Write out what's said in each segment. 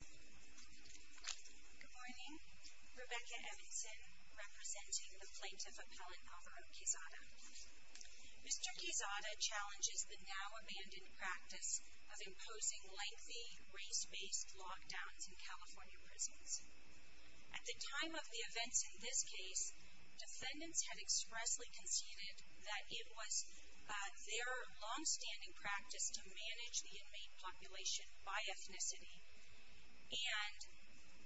Good morning, Rebecca Evanson representing the plaintiff appellant Alvaro Quezada. Mr. Quezada challenges the now-abandoned practice of imposing lengthy race-based lockdowns in California prisons. At the time of the events in this case, defendants had expressly conceded that it was their long-standing practice to and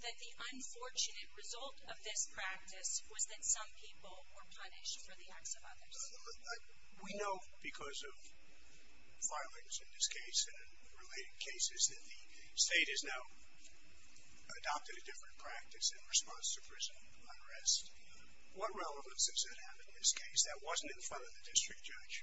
that the unfortunate result of this practice was that some people were punished for the acts of others. We know because of violence in this case and related cases that the state has now adopted a different practice in response to prison unrest. What relevance does that have in this case? That wasn't in front of the district judge.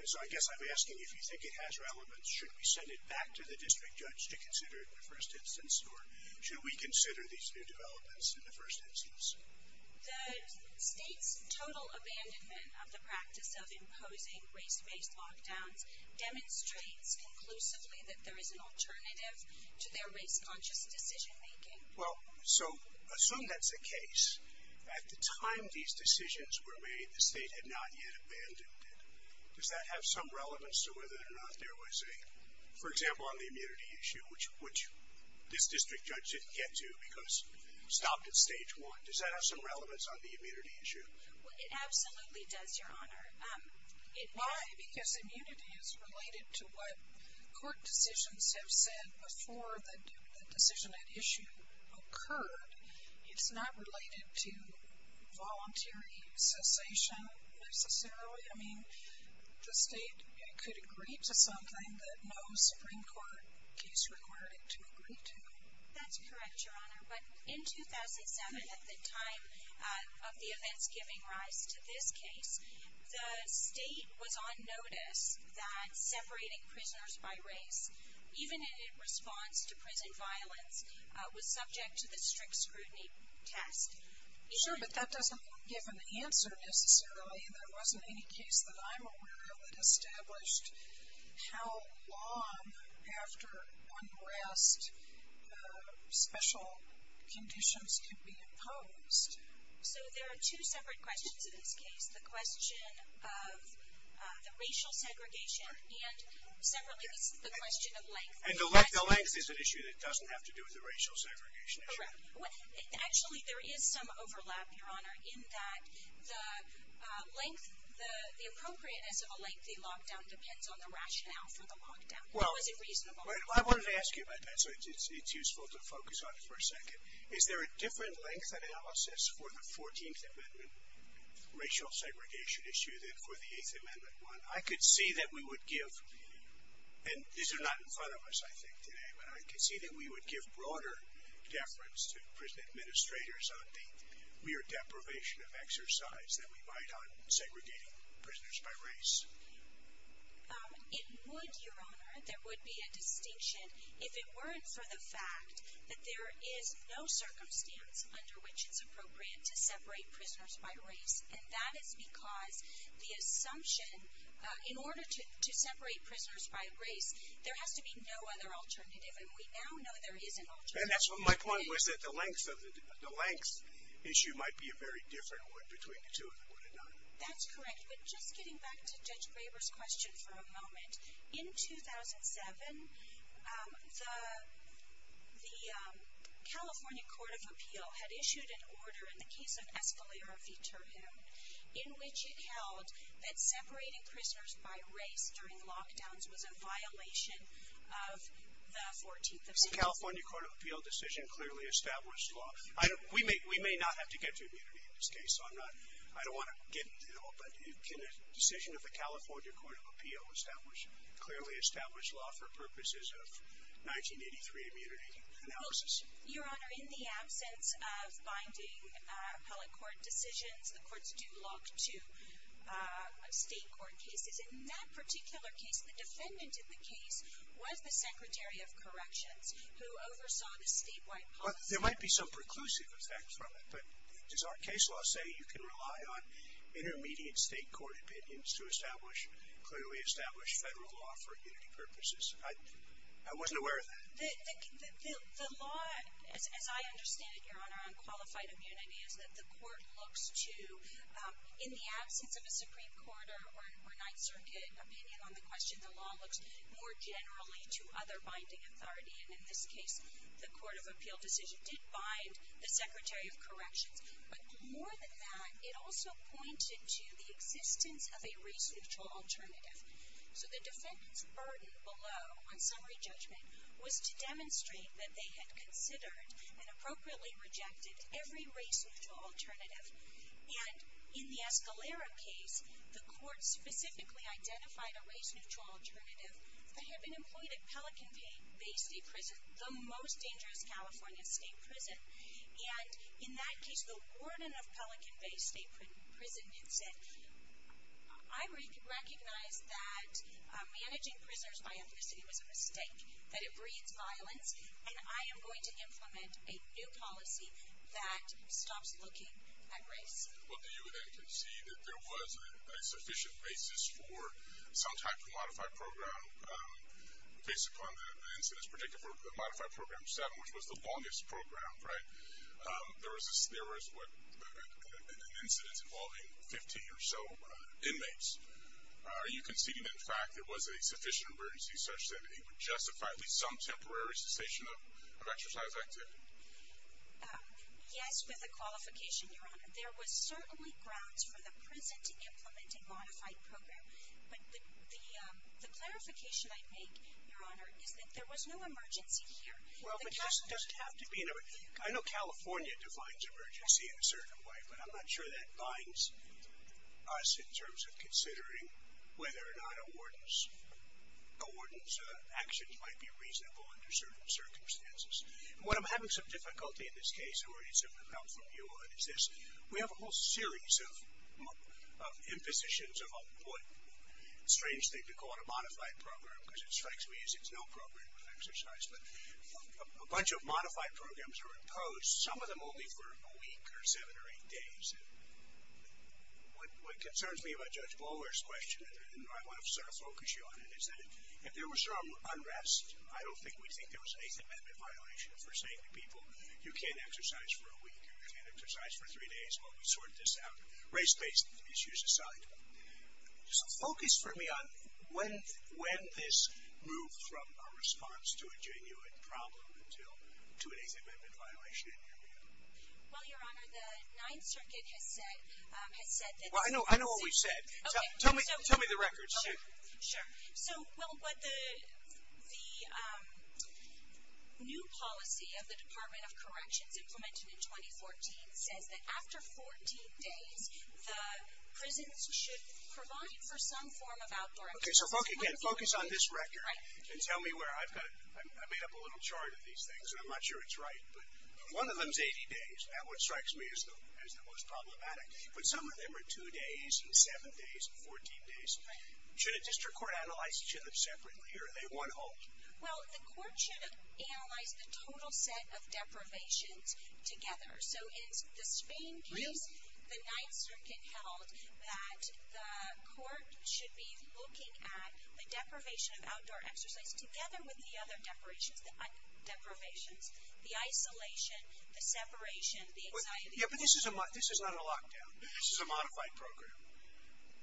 So I guess I'm asking if you think it has relevance, should we send it back to the district judge to consider it in the first instance or should we consider these new developments in the first instance? The state's total abandonment of the practice of imposing race-based lockdowns demonstrates conclusively that there is an alternative to their race-conscious decision-making. Well, so assume that's the case. At the time these decisions were made, the state had not yet For example, on the immunity issue, which this district judge didn't get to because stopped at stage one. Does that have some relevance on the immunity issue? Well, it absolutely does, your honor. Why? Because immunity is related to what court decisions have said before the decision at issue occurred. It's not related to voluntary cessation necessarily. I mean, the state could agree to something that no Supreme Court case required it to agree to. That's correct, your honor. But in 2007, at the time of the events giving rise to this case, the state was on notice that separating prisoners by race, even in response to prison violence, was subject to the strict scrutiny test. Sure, but that doesn't give an answer necessarily. There wasn't any case that I'm aware of that how long after unrest special conditions can be imposed. So there are two separate questions in this case. The question of the racial segregation, and separately, this is the question of length. And the length is an issue that doesn't have to do with the racial segregation issue. Correct. Actually, there is some overlap, your honor, in that the length, the appropriate as rationale for the lockdown. Well, I wanted to ask you about that, so it's useful to focus on it for a second. Is there a different length analysis for the 14th Amendment racial segregation issue than for the 8th Amendment one? I could see that we would give, and these are not in front of us, I think, today, but I could see that we would give broader deference to prison administrators on the mere deprivation of exercise that we might on segregating prisoners by race. It would, your honor, there would be a distinction if it weren't for the fact that there is no circumstance under which it's appropriate to separate prisoners by race. And that is because the assumption, in order to separate prisoners by race, there has to be no other alternative. And we now know there is an alternative. And that's what my point was that the length issue might be a very different one between the two of them, would it not? That's correct. But just getting back to Judge Graber's question for a moment, in 2007, the California Court of Appeal had issued an order in the case of Escalera v. Turham in which it held that separating prisoners by race during lockdowns was a violation of the 14th Amendment. California Court of Appeal decision clearly established law. We may not have to get to it all, but can a decision of the California Court of Appeal establish, clearly establish law for purposes of 1983 immunity analysis? Your honor, in the absence of binding appellate court decisions, the courts do lock to state court cases. In that particular case, the defendant in the case was the Secretary of Corrections who oversaw the statewide policy. There might be some preclusive effects from it, but does our case law say you can rely on intermediate state court opinions to establish, clearly establish federal law for immunity purposes? I wasn't aware of that. The law, as I understand it, your honor, on qualified immunity is that the court looks to, in the absence of a Supreme Court or Ninth Circuit opinion on the question, the law looks more generally to other binding authority. And in this case, the Court of Appeal decision did bind the Secretary of Corrections, but more than that, it also pointed to the existence of a race-neutral alternative. So the defendant's burden below on summary judgment was to demonstrate that they had considered and appropriately rejected every race-neutral alternative. And in the Escalera case, the court specifically identified a race-neutral alternative that had been employed at Pelican Bay State Prison, the most dangerous California state prison. And in that case, the warden of Pelican Bay State Prison had said, I recognize that managing prisoners by ethnicity was a mistake, that it breeds violence, and I am going to implement a new policy that stops looking at race. Well, do you then concede that there was a sufficient basis for some type of modified program, based upon the incidence, particularly for the modified program 7, which was the longest program, right? There was an incidence involving 15 or so inmates. Are you conceding, in fact, there was a sufficient emergency such that it would justify at least some temporary cessation of exercise? Yes, with a qualification, Your Honor. There was certainly grounds for the prison to implement a modified program, but the clarification I'd make, Your Honor, is that there was no emergency here. Well, it doesn't have to be. I know California defines emergency in a certain way, but I'm not sure that binds us in terms of considering whether or not a warden's reasonable under certain circumstances. And what I'm having some difficulty in this case, and we're going to need some help from you, Your Honor, is this. We have a whole series of impositions of what's a strange thing to call it a modified program, because it strikes me as it's not appropriate for exercise, but a bunch of modified programs were imposed, some of them only for a week or seven or eight days. What concerns me about Judge Blomer's question, and I want to sort of focus you on it, is that if there was some unrest, I don't think we'd think there was an Eighth Amendment violation if we're saying to people, you can't exercise for a week, you can't exercise for three days while we sort this out, race-based issues aside. So focus for me on when this moved from a response to a genuine problem until to an Eighth Amendment violation, and here we go. Well, Your Honor, the Ninth Circuit has said Well, I know what we've said. Tell me the records. Okay, sure. So, well, the new policy of the Department of Corrections implemented in 2014 says that after 14 days, the prisons should provide for some form of outdoor activities. Okay, so focus on this record and tell me where. I've made up a little chart of these things, and I'm not sure it's right, but one of them's 80 days. That's what strikes me as the most confusing. Okay, so you've got two days, seven days, 14 days. Should a district court analyze each of them separately, or are they one whole? Well, the court should have analyzed the total set of deprivations together. So in the Spain case, the Ninth Circuit held that the court should be looking at the deprivation of outdoor exercise together with the other deprivations, the isolation, the separation, the anxiety. Yeah, but this is not a lockdown. This is a modified program,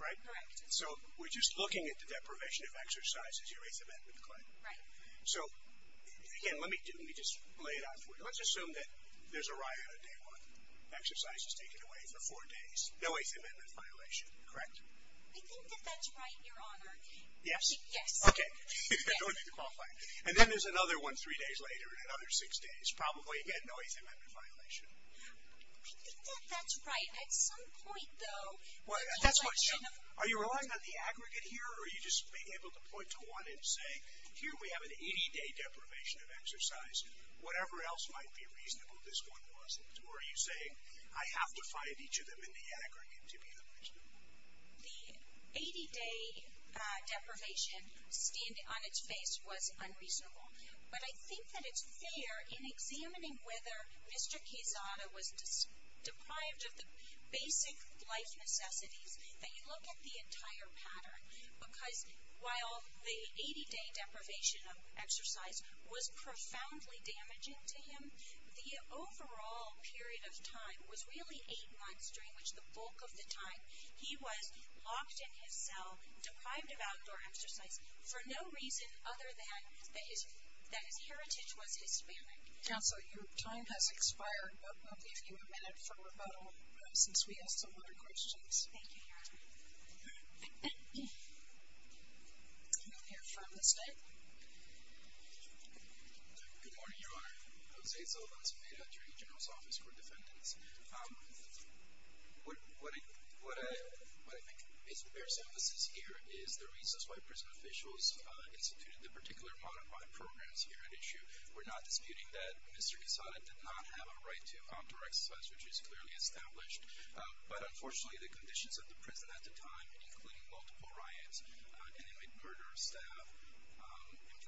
right? Correct. So we're just looking at the deprivation of exercises, your Eighth Amendment claim. Right. So, again, let me just lay it out for you. Let's assume that there's a riot on day one. Exercise is taken away for four days. No Eighth Amendment violation, correct? I think that that's right, Your Honor. Yes? Yes. Okay. I don't need to qualify. And then there's another one three days later, and another six days. Probably again, that's what, are you relying on the aggregate here, or are you just being able to point to one and say, here we have an 80-day deprivation of exercise. Whatever else might be reasonable, this one wasn't. Or are you saying, I have to find each of them in the aggregate to be the best? The 80-day deprivation standing on its face was unreasonable. But I think that it's fair in examining whether Mr. Quezada was just deprived of the basic life necessities, that you look at the entire pattern. Because while the 80-day deprivation of exercise was profoundly damaging to him, the overall period of time was really eight months, during which the bulk of the time he was locked in his cell, deprived of outdoor exercise, for no reason other than that his heritage was Hispanic. Counsel, your time has expired, but we'll leave you a minute for rebuttal, since we have some other questions. Thank you, Your Honor. We'll hear from the State. Good morning, Your Honor. Jose Zalabez Meda, Attorney General's Office for Defendants. What I think bears emphasis here is the reasons why prison officials instituted the particular modified programs here at issue. We're not disputing that Mr. Quezada did not have a right to outdoor exercise, which is clearly established. But unfortunately, the conditions of the prison at the time, including multiple riots, inmate murder, staff,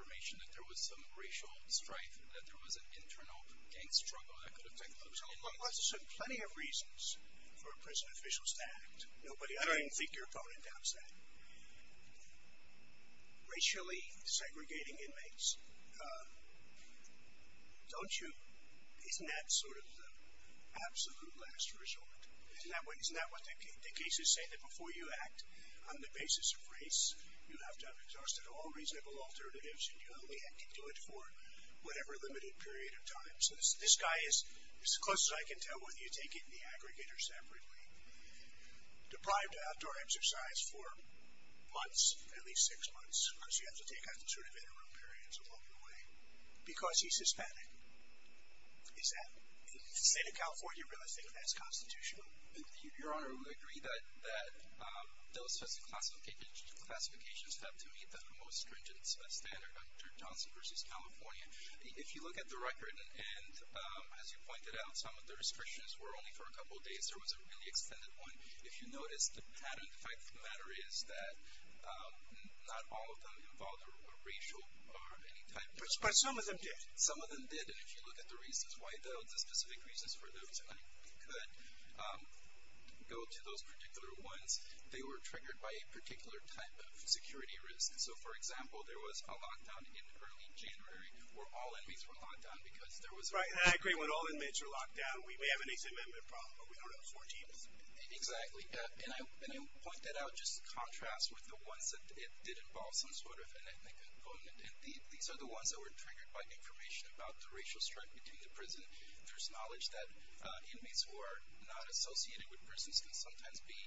information that there was some racial strife, that there was an internal gang struggle that could have taken place. Well, there's plenty of reasons for prison officials to act. Nobody, I don't even think your opponent doubts that. Racially segregating inmates, don't you, isn't that sort of the absolute last resort? Isn't that what the cases say, that before you act on the basis of race, you have to have exhausted all reasonable alternatives, and you only have to do it for whatever limited period of time. So this guy is as close as I can tell whether you take it in the aggregate or separately. Deprived of outdoor exercise for months, at least six months, because you have to take out the sort of interim periods along the way, because he's Hispanic. Is that, in the state of California, realistic? That's constitutional? Your Honor, I would agree that those classifications have to meet the most stringent standard under Johnson v. California. If you look at the record, and as you pointed out, some of the restrictions were only for a couple days. There was a really extended one. If you notice the pattern, the fact of the matter is that not all of them involved a racial or any type of... But some of them did. Some of them did, and if you look at the reasons why, though, the specific reasons for those who could go to those particular ones, they were triggered by a lockdown in early January, where all inmates were locked down, because there was... Right, and I agree. When all inmates are locked down, we may have an 8th Amendment problem, but we don't have 14 inmates. Exactly. And I point that out just in contrast with the ones that did involve some sort of an ethnic component, and these are the ones that were triggered by information about the racial strife between the prison. There's knowledge that inmates who are not associated with prisons can sometimes be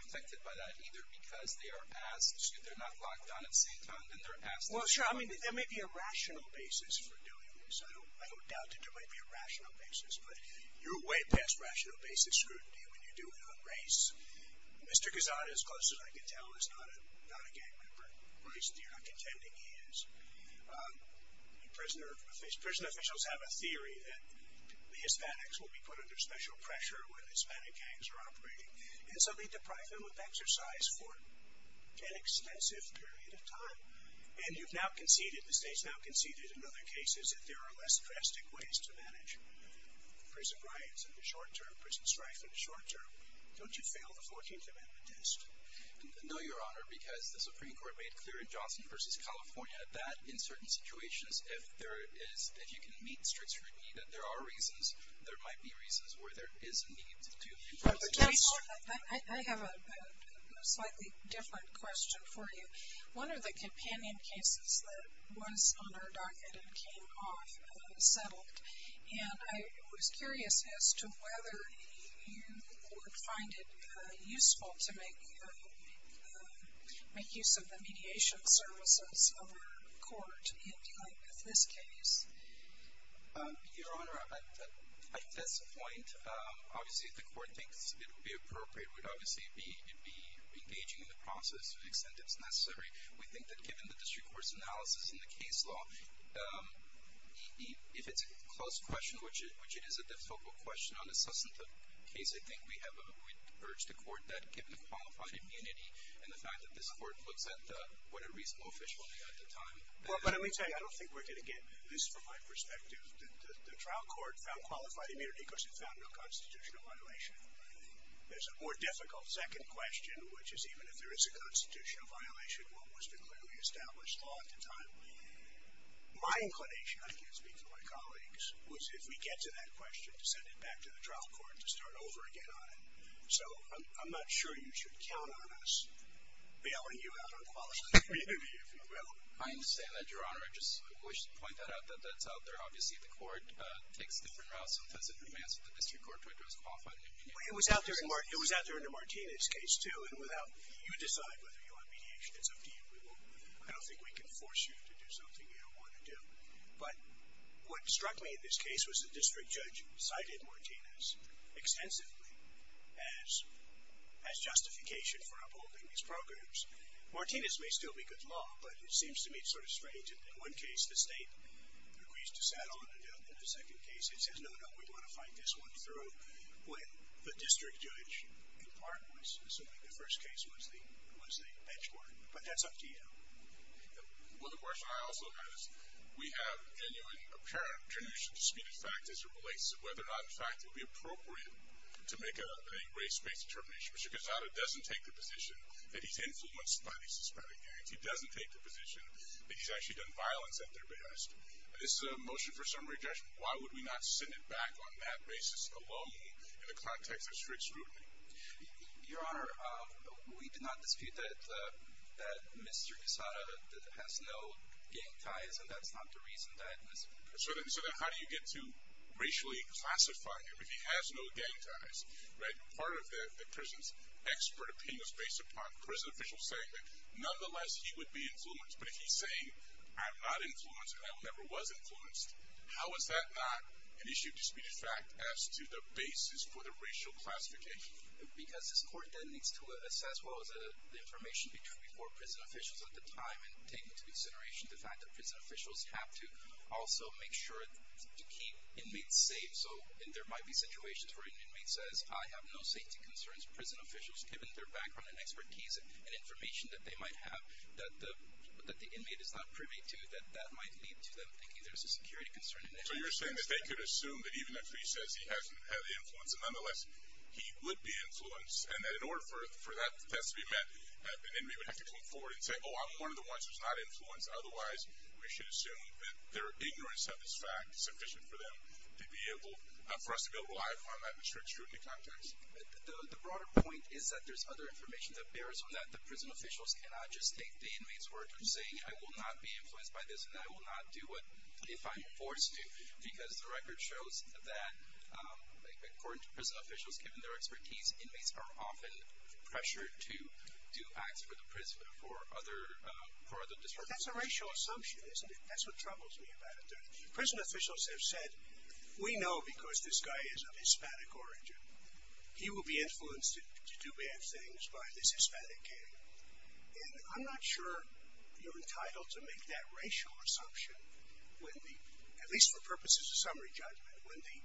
affected by that either because they are asked if they're not locked down at the same time that they're asked to be locked down. Well, sure. I mean, there may be a rational basis for doing this. I don't doubt that there might be a rational basis, but you're way past rational basic scrutiny when you do it on race. Mr. Guzada, as close as I can tell, is not a gang member, or at least you're not contending he is. Prison officials have a theory that the Hispanics will be put under special pressure when Hispanic And you've now conceded, the state's now conceded in other cases that there are less drastic ways to manage prison riots in the short term, prison strife in the short term. Don't you fail the 14th Amendment test? No, Your Honor, because the Supreme Court made clear in Johnson v. California that in certain situations, if there is, if you can meet strict scrutiny, that there are reasons, there might be reasons where there is a need to impose a test. I have a slightly different question for you. One of the companion cases that was on our docket and came off settled, and I was curious as to whether you would find it useful to make use of the mediation services of our court in dealing with this case. Your Honor, at this point, obviously if the court thinks it would be appropriate, we'd obviously be engaging in the process to the extent it's necessary. We think that given the district court's analysis in the case law, if it's a close question, which it is a difficult question on a substantive case, I think we have, we'd urge the court that given qualified immunity and the fact that this court looks at what a reasonable official had at the time. But let me tell you, I don't think we're going to get this from my perspective. The trial court found qualified immunity because it found no constitutional violation. There's a more difficult second question, which is even if there is a constitutional violation, what was the clearly established law at the time? My inclination, I can't speak for my colleagues, was if we get to that question to send it back to the trial court to start over again on it. So I'm not sure you should count on us bailing you out on qualified immunity if you will. I understand that, Your Honor. I just wish to point that out that that's out there. Obviously, the court takes different routes sometimes in advance of the district court to address qualified immunity. It was out there in the Martinez case too, and without, you decide whether you want mediation, it's up to you. We will, I don't think we can force you to do something you don't want to do. But what struck me in this case was the district judge cited Martinez extensively as justification for upholding these programs. Martinez may still be good law, but it seems to me sort of strange. In one case, the state agrees to settle it, and in the second case, it says, no, no, we want to fight this one through. When the district judge, in part, was assuming the first case was the benchmark. But that's up to you. Well, the question I also have is we have genuine, apparent, genuine disputed fact as it relates to whether or not in fact it would be appropriate to make a race-based determination. Mr. Gonzaga doesn't take the position that he's influenced by these suspected gangs. He doesn't take the position that he's actually done violence at their behest. This is a motion for summary judgment. Why would we not send it back on that basis alone in the context of strict scrutiny? Your Honor, we do not dispute that Mr. Gonzaga has no gang ties, and that's not the reason that it was. So then how do you get to racially classify him if he has no gang ties? Part of the prison's expert opinion is based upon prison officials saying that, nonetheless, he would be influenced. But if he's saying, I'm not influenced, and I never was influenced, how is that not an issue of disputed fact as to the basis for the racial classification? Because this court then needs to assess, well, the information before prison officials at the time, and take into consideration the fact that prison officials have to also make sure to keep inmates safe. So there might be situations where an inmate says, I have no safety concerns. Prison officials, given their background and expertise and information that they might have that the inmate is not privy to, that that might lead to them thinking there's a security concern. So you're saying that they could assume that even if he says he hasn't had the influence, nonetheless, he would be influenced, and that in order for that to be met, an inmate would have to come forward and say, oh, I'm one of the ones who's not influenced. Otherwise, we should assume that their ignorance of this fact is sufficient for them to be able, for us to be able to rely upon that in a strict scrutiny context? The broader point is that there's other information that bears on that. The prison officials cannot just take the inmate's words of saying, I will not be influenced by this, and I will not do what, if I'm forced to, because the record shows that, according to prison officials, given their expertise, inmates are often pressured to do acts for the prison, for other, for other districts. That's a racial assumption, isn't it? That's what troubles me about it. Prison officials have said, we know because this guy is of Hispanic origin, he will be influenced to do bad things by this Hispanic guy. And I'm not sure you're entitled to make that racial assumption when the, at least for purposes of summary judgment, when the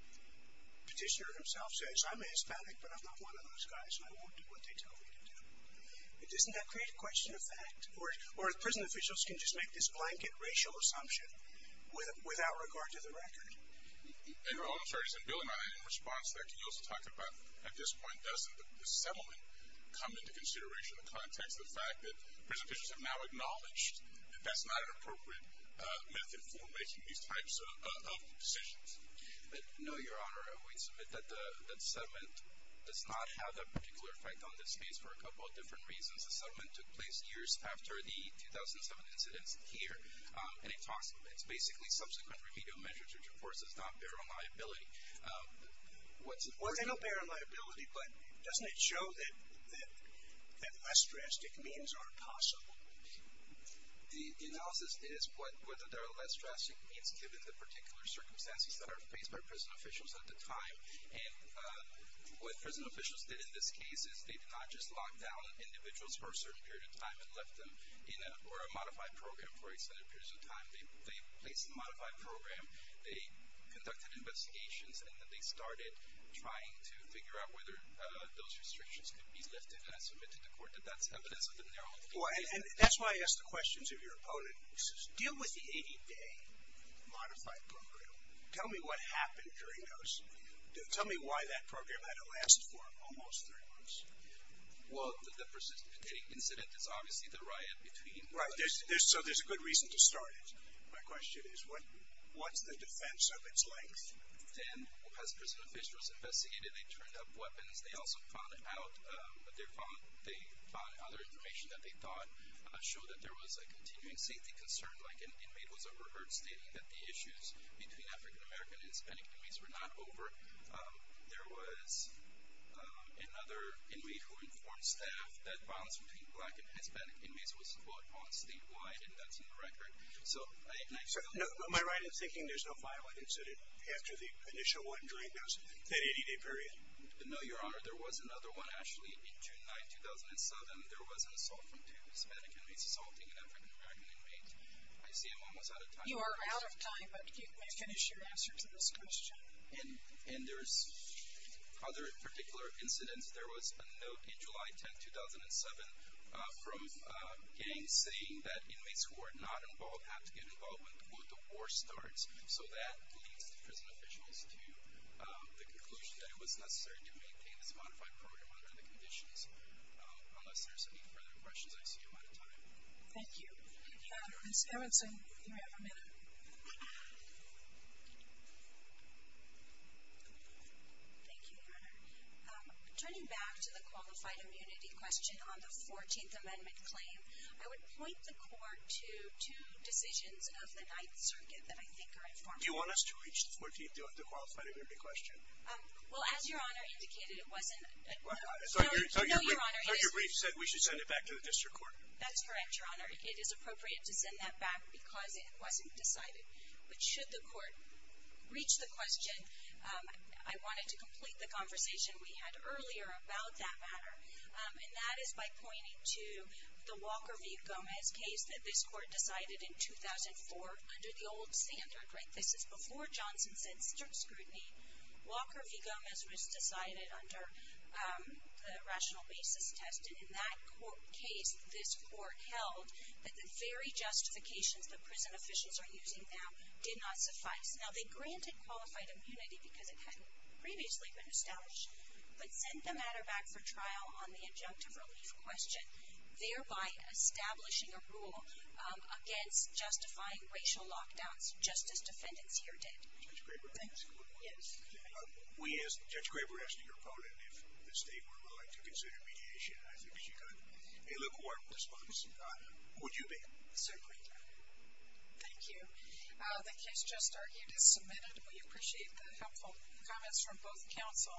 petitioner himself says, I'm Hispanic, but I'm not one of those guys, and I won't do what they tell me to do. Doesn't that create a question of fact? Or prison officials can just make this blanket racial assumption without regard to the record? And I'm sorry, is it Bill and I, in response to that, can you also talk about, at this point, doesn't the settlement come into consideration in the context of the fact that prison officials have now acknowledged that that's not an appropriate method for making these types of decisions? No, Your Honor, I would submit that the settlement does not have a particular effect on this case for a couple of different reasons. The settlement took place years after the 2007 incidents here, and it talks, it's basically subsequent remedial measures, which of course does not bear on liability. What's important... Well, they don't bear on liability, but doesn't it show that less drastic means are possible? The analysis is whether there are less drastic means given the particular circumstances that are faced by prison officials at the time. And what prison officials did in this case is they did not just lock down individuals for a certain period of time and left them in a, or a modified program for extended periods of time. They placed in the modified program, they conducted investigations, and then they started trying to figure out whether those restrictions could be lifted. And I submit to the court that that's evidence of the narrow... Well, and that's why I asked the questions of your opponent. He says, deal with the 80-day modified program. Tell me what happened during those. Tell me why that program had to last for almost 30 months. Well, the persistent incident is obviously the riot between... Right. So there's a good reason to start it. My question is, what's the defense of its length? Then as prison officials investigated, they turned up weapons. They also found out, they found other information that they thought showed that there was a continuing safety concern. Like an inmate was overheard stating that the issues between African-American and another inmate who informed staff that violence between Black and Hispanic inmates was fought on statewide, and that's in the record. So, and I feel... Am I right in thinking there's no violent incident after the initial one during those, that 80-day period? No, Your Honor. There was another one actually in June 9, 2007. There was an assault from two Hispanic inmates assaulting an African-American inmate. I see I'm almost out of time. You are out of time, but can you finish your answer to this question? And there's other particular incidents. There was a note in July 10, 2007, from gangs saying that inmates who are not involved have to get involved when the war starts. So that leads the prison officials to the conclusion that it was necessary to maintain this modified program under the conditions. Unless there's any further questions, I see I'm out of time. Thank you. Ms. Erwinson, you have a minute. Thank you, Your Honor. Turning back to the qualified immunity question on the 14th Amendment claim, I would point the Court to two decisions of the Ninth Circuit that I think are informative. Do you want us to reach the 14th, the qualified immunity question? Well, as Your Honor indicated, it wasn't... No, Your Honor. Dr. Brief said we should send it back to the District Court. That's correct, Your Honor. It is appropriate to send that back because it wasn't decided. But should the Court reach the question, I wanted to complete the conversation we had earlier about that matter. And that is by pointing to the Walker v. Gomez case that this Court decided in 2004 under the old standard, right? This is before Johnson said strict scrutiny. Walker v. Gomez was decided under the rational basis test. And in that case, this Court held that the very justifications that prison officials are using now did not suffice. Now, they granted qualified immunity because it hadn't previously been established, but sent the matter back for trial on the injunctive relief question, thereby establishing a rule against justifying racial lockdowns, just as defendants here did. Judge Graber, can I ask you one more question? Yes. We asked, Judge Graber asked your opponent if the State were willing to consider mediation. I think she did. Hey, look, we're working on this, folks. Would you be? Certainly, Your Honor. Thank you. The case just argued is submitted. We appreciate the helpful comments from both counsel.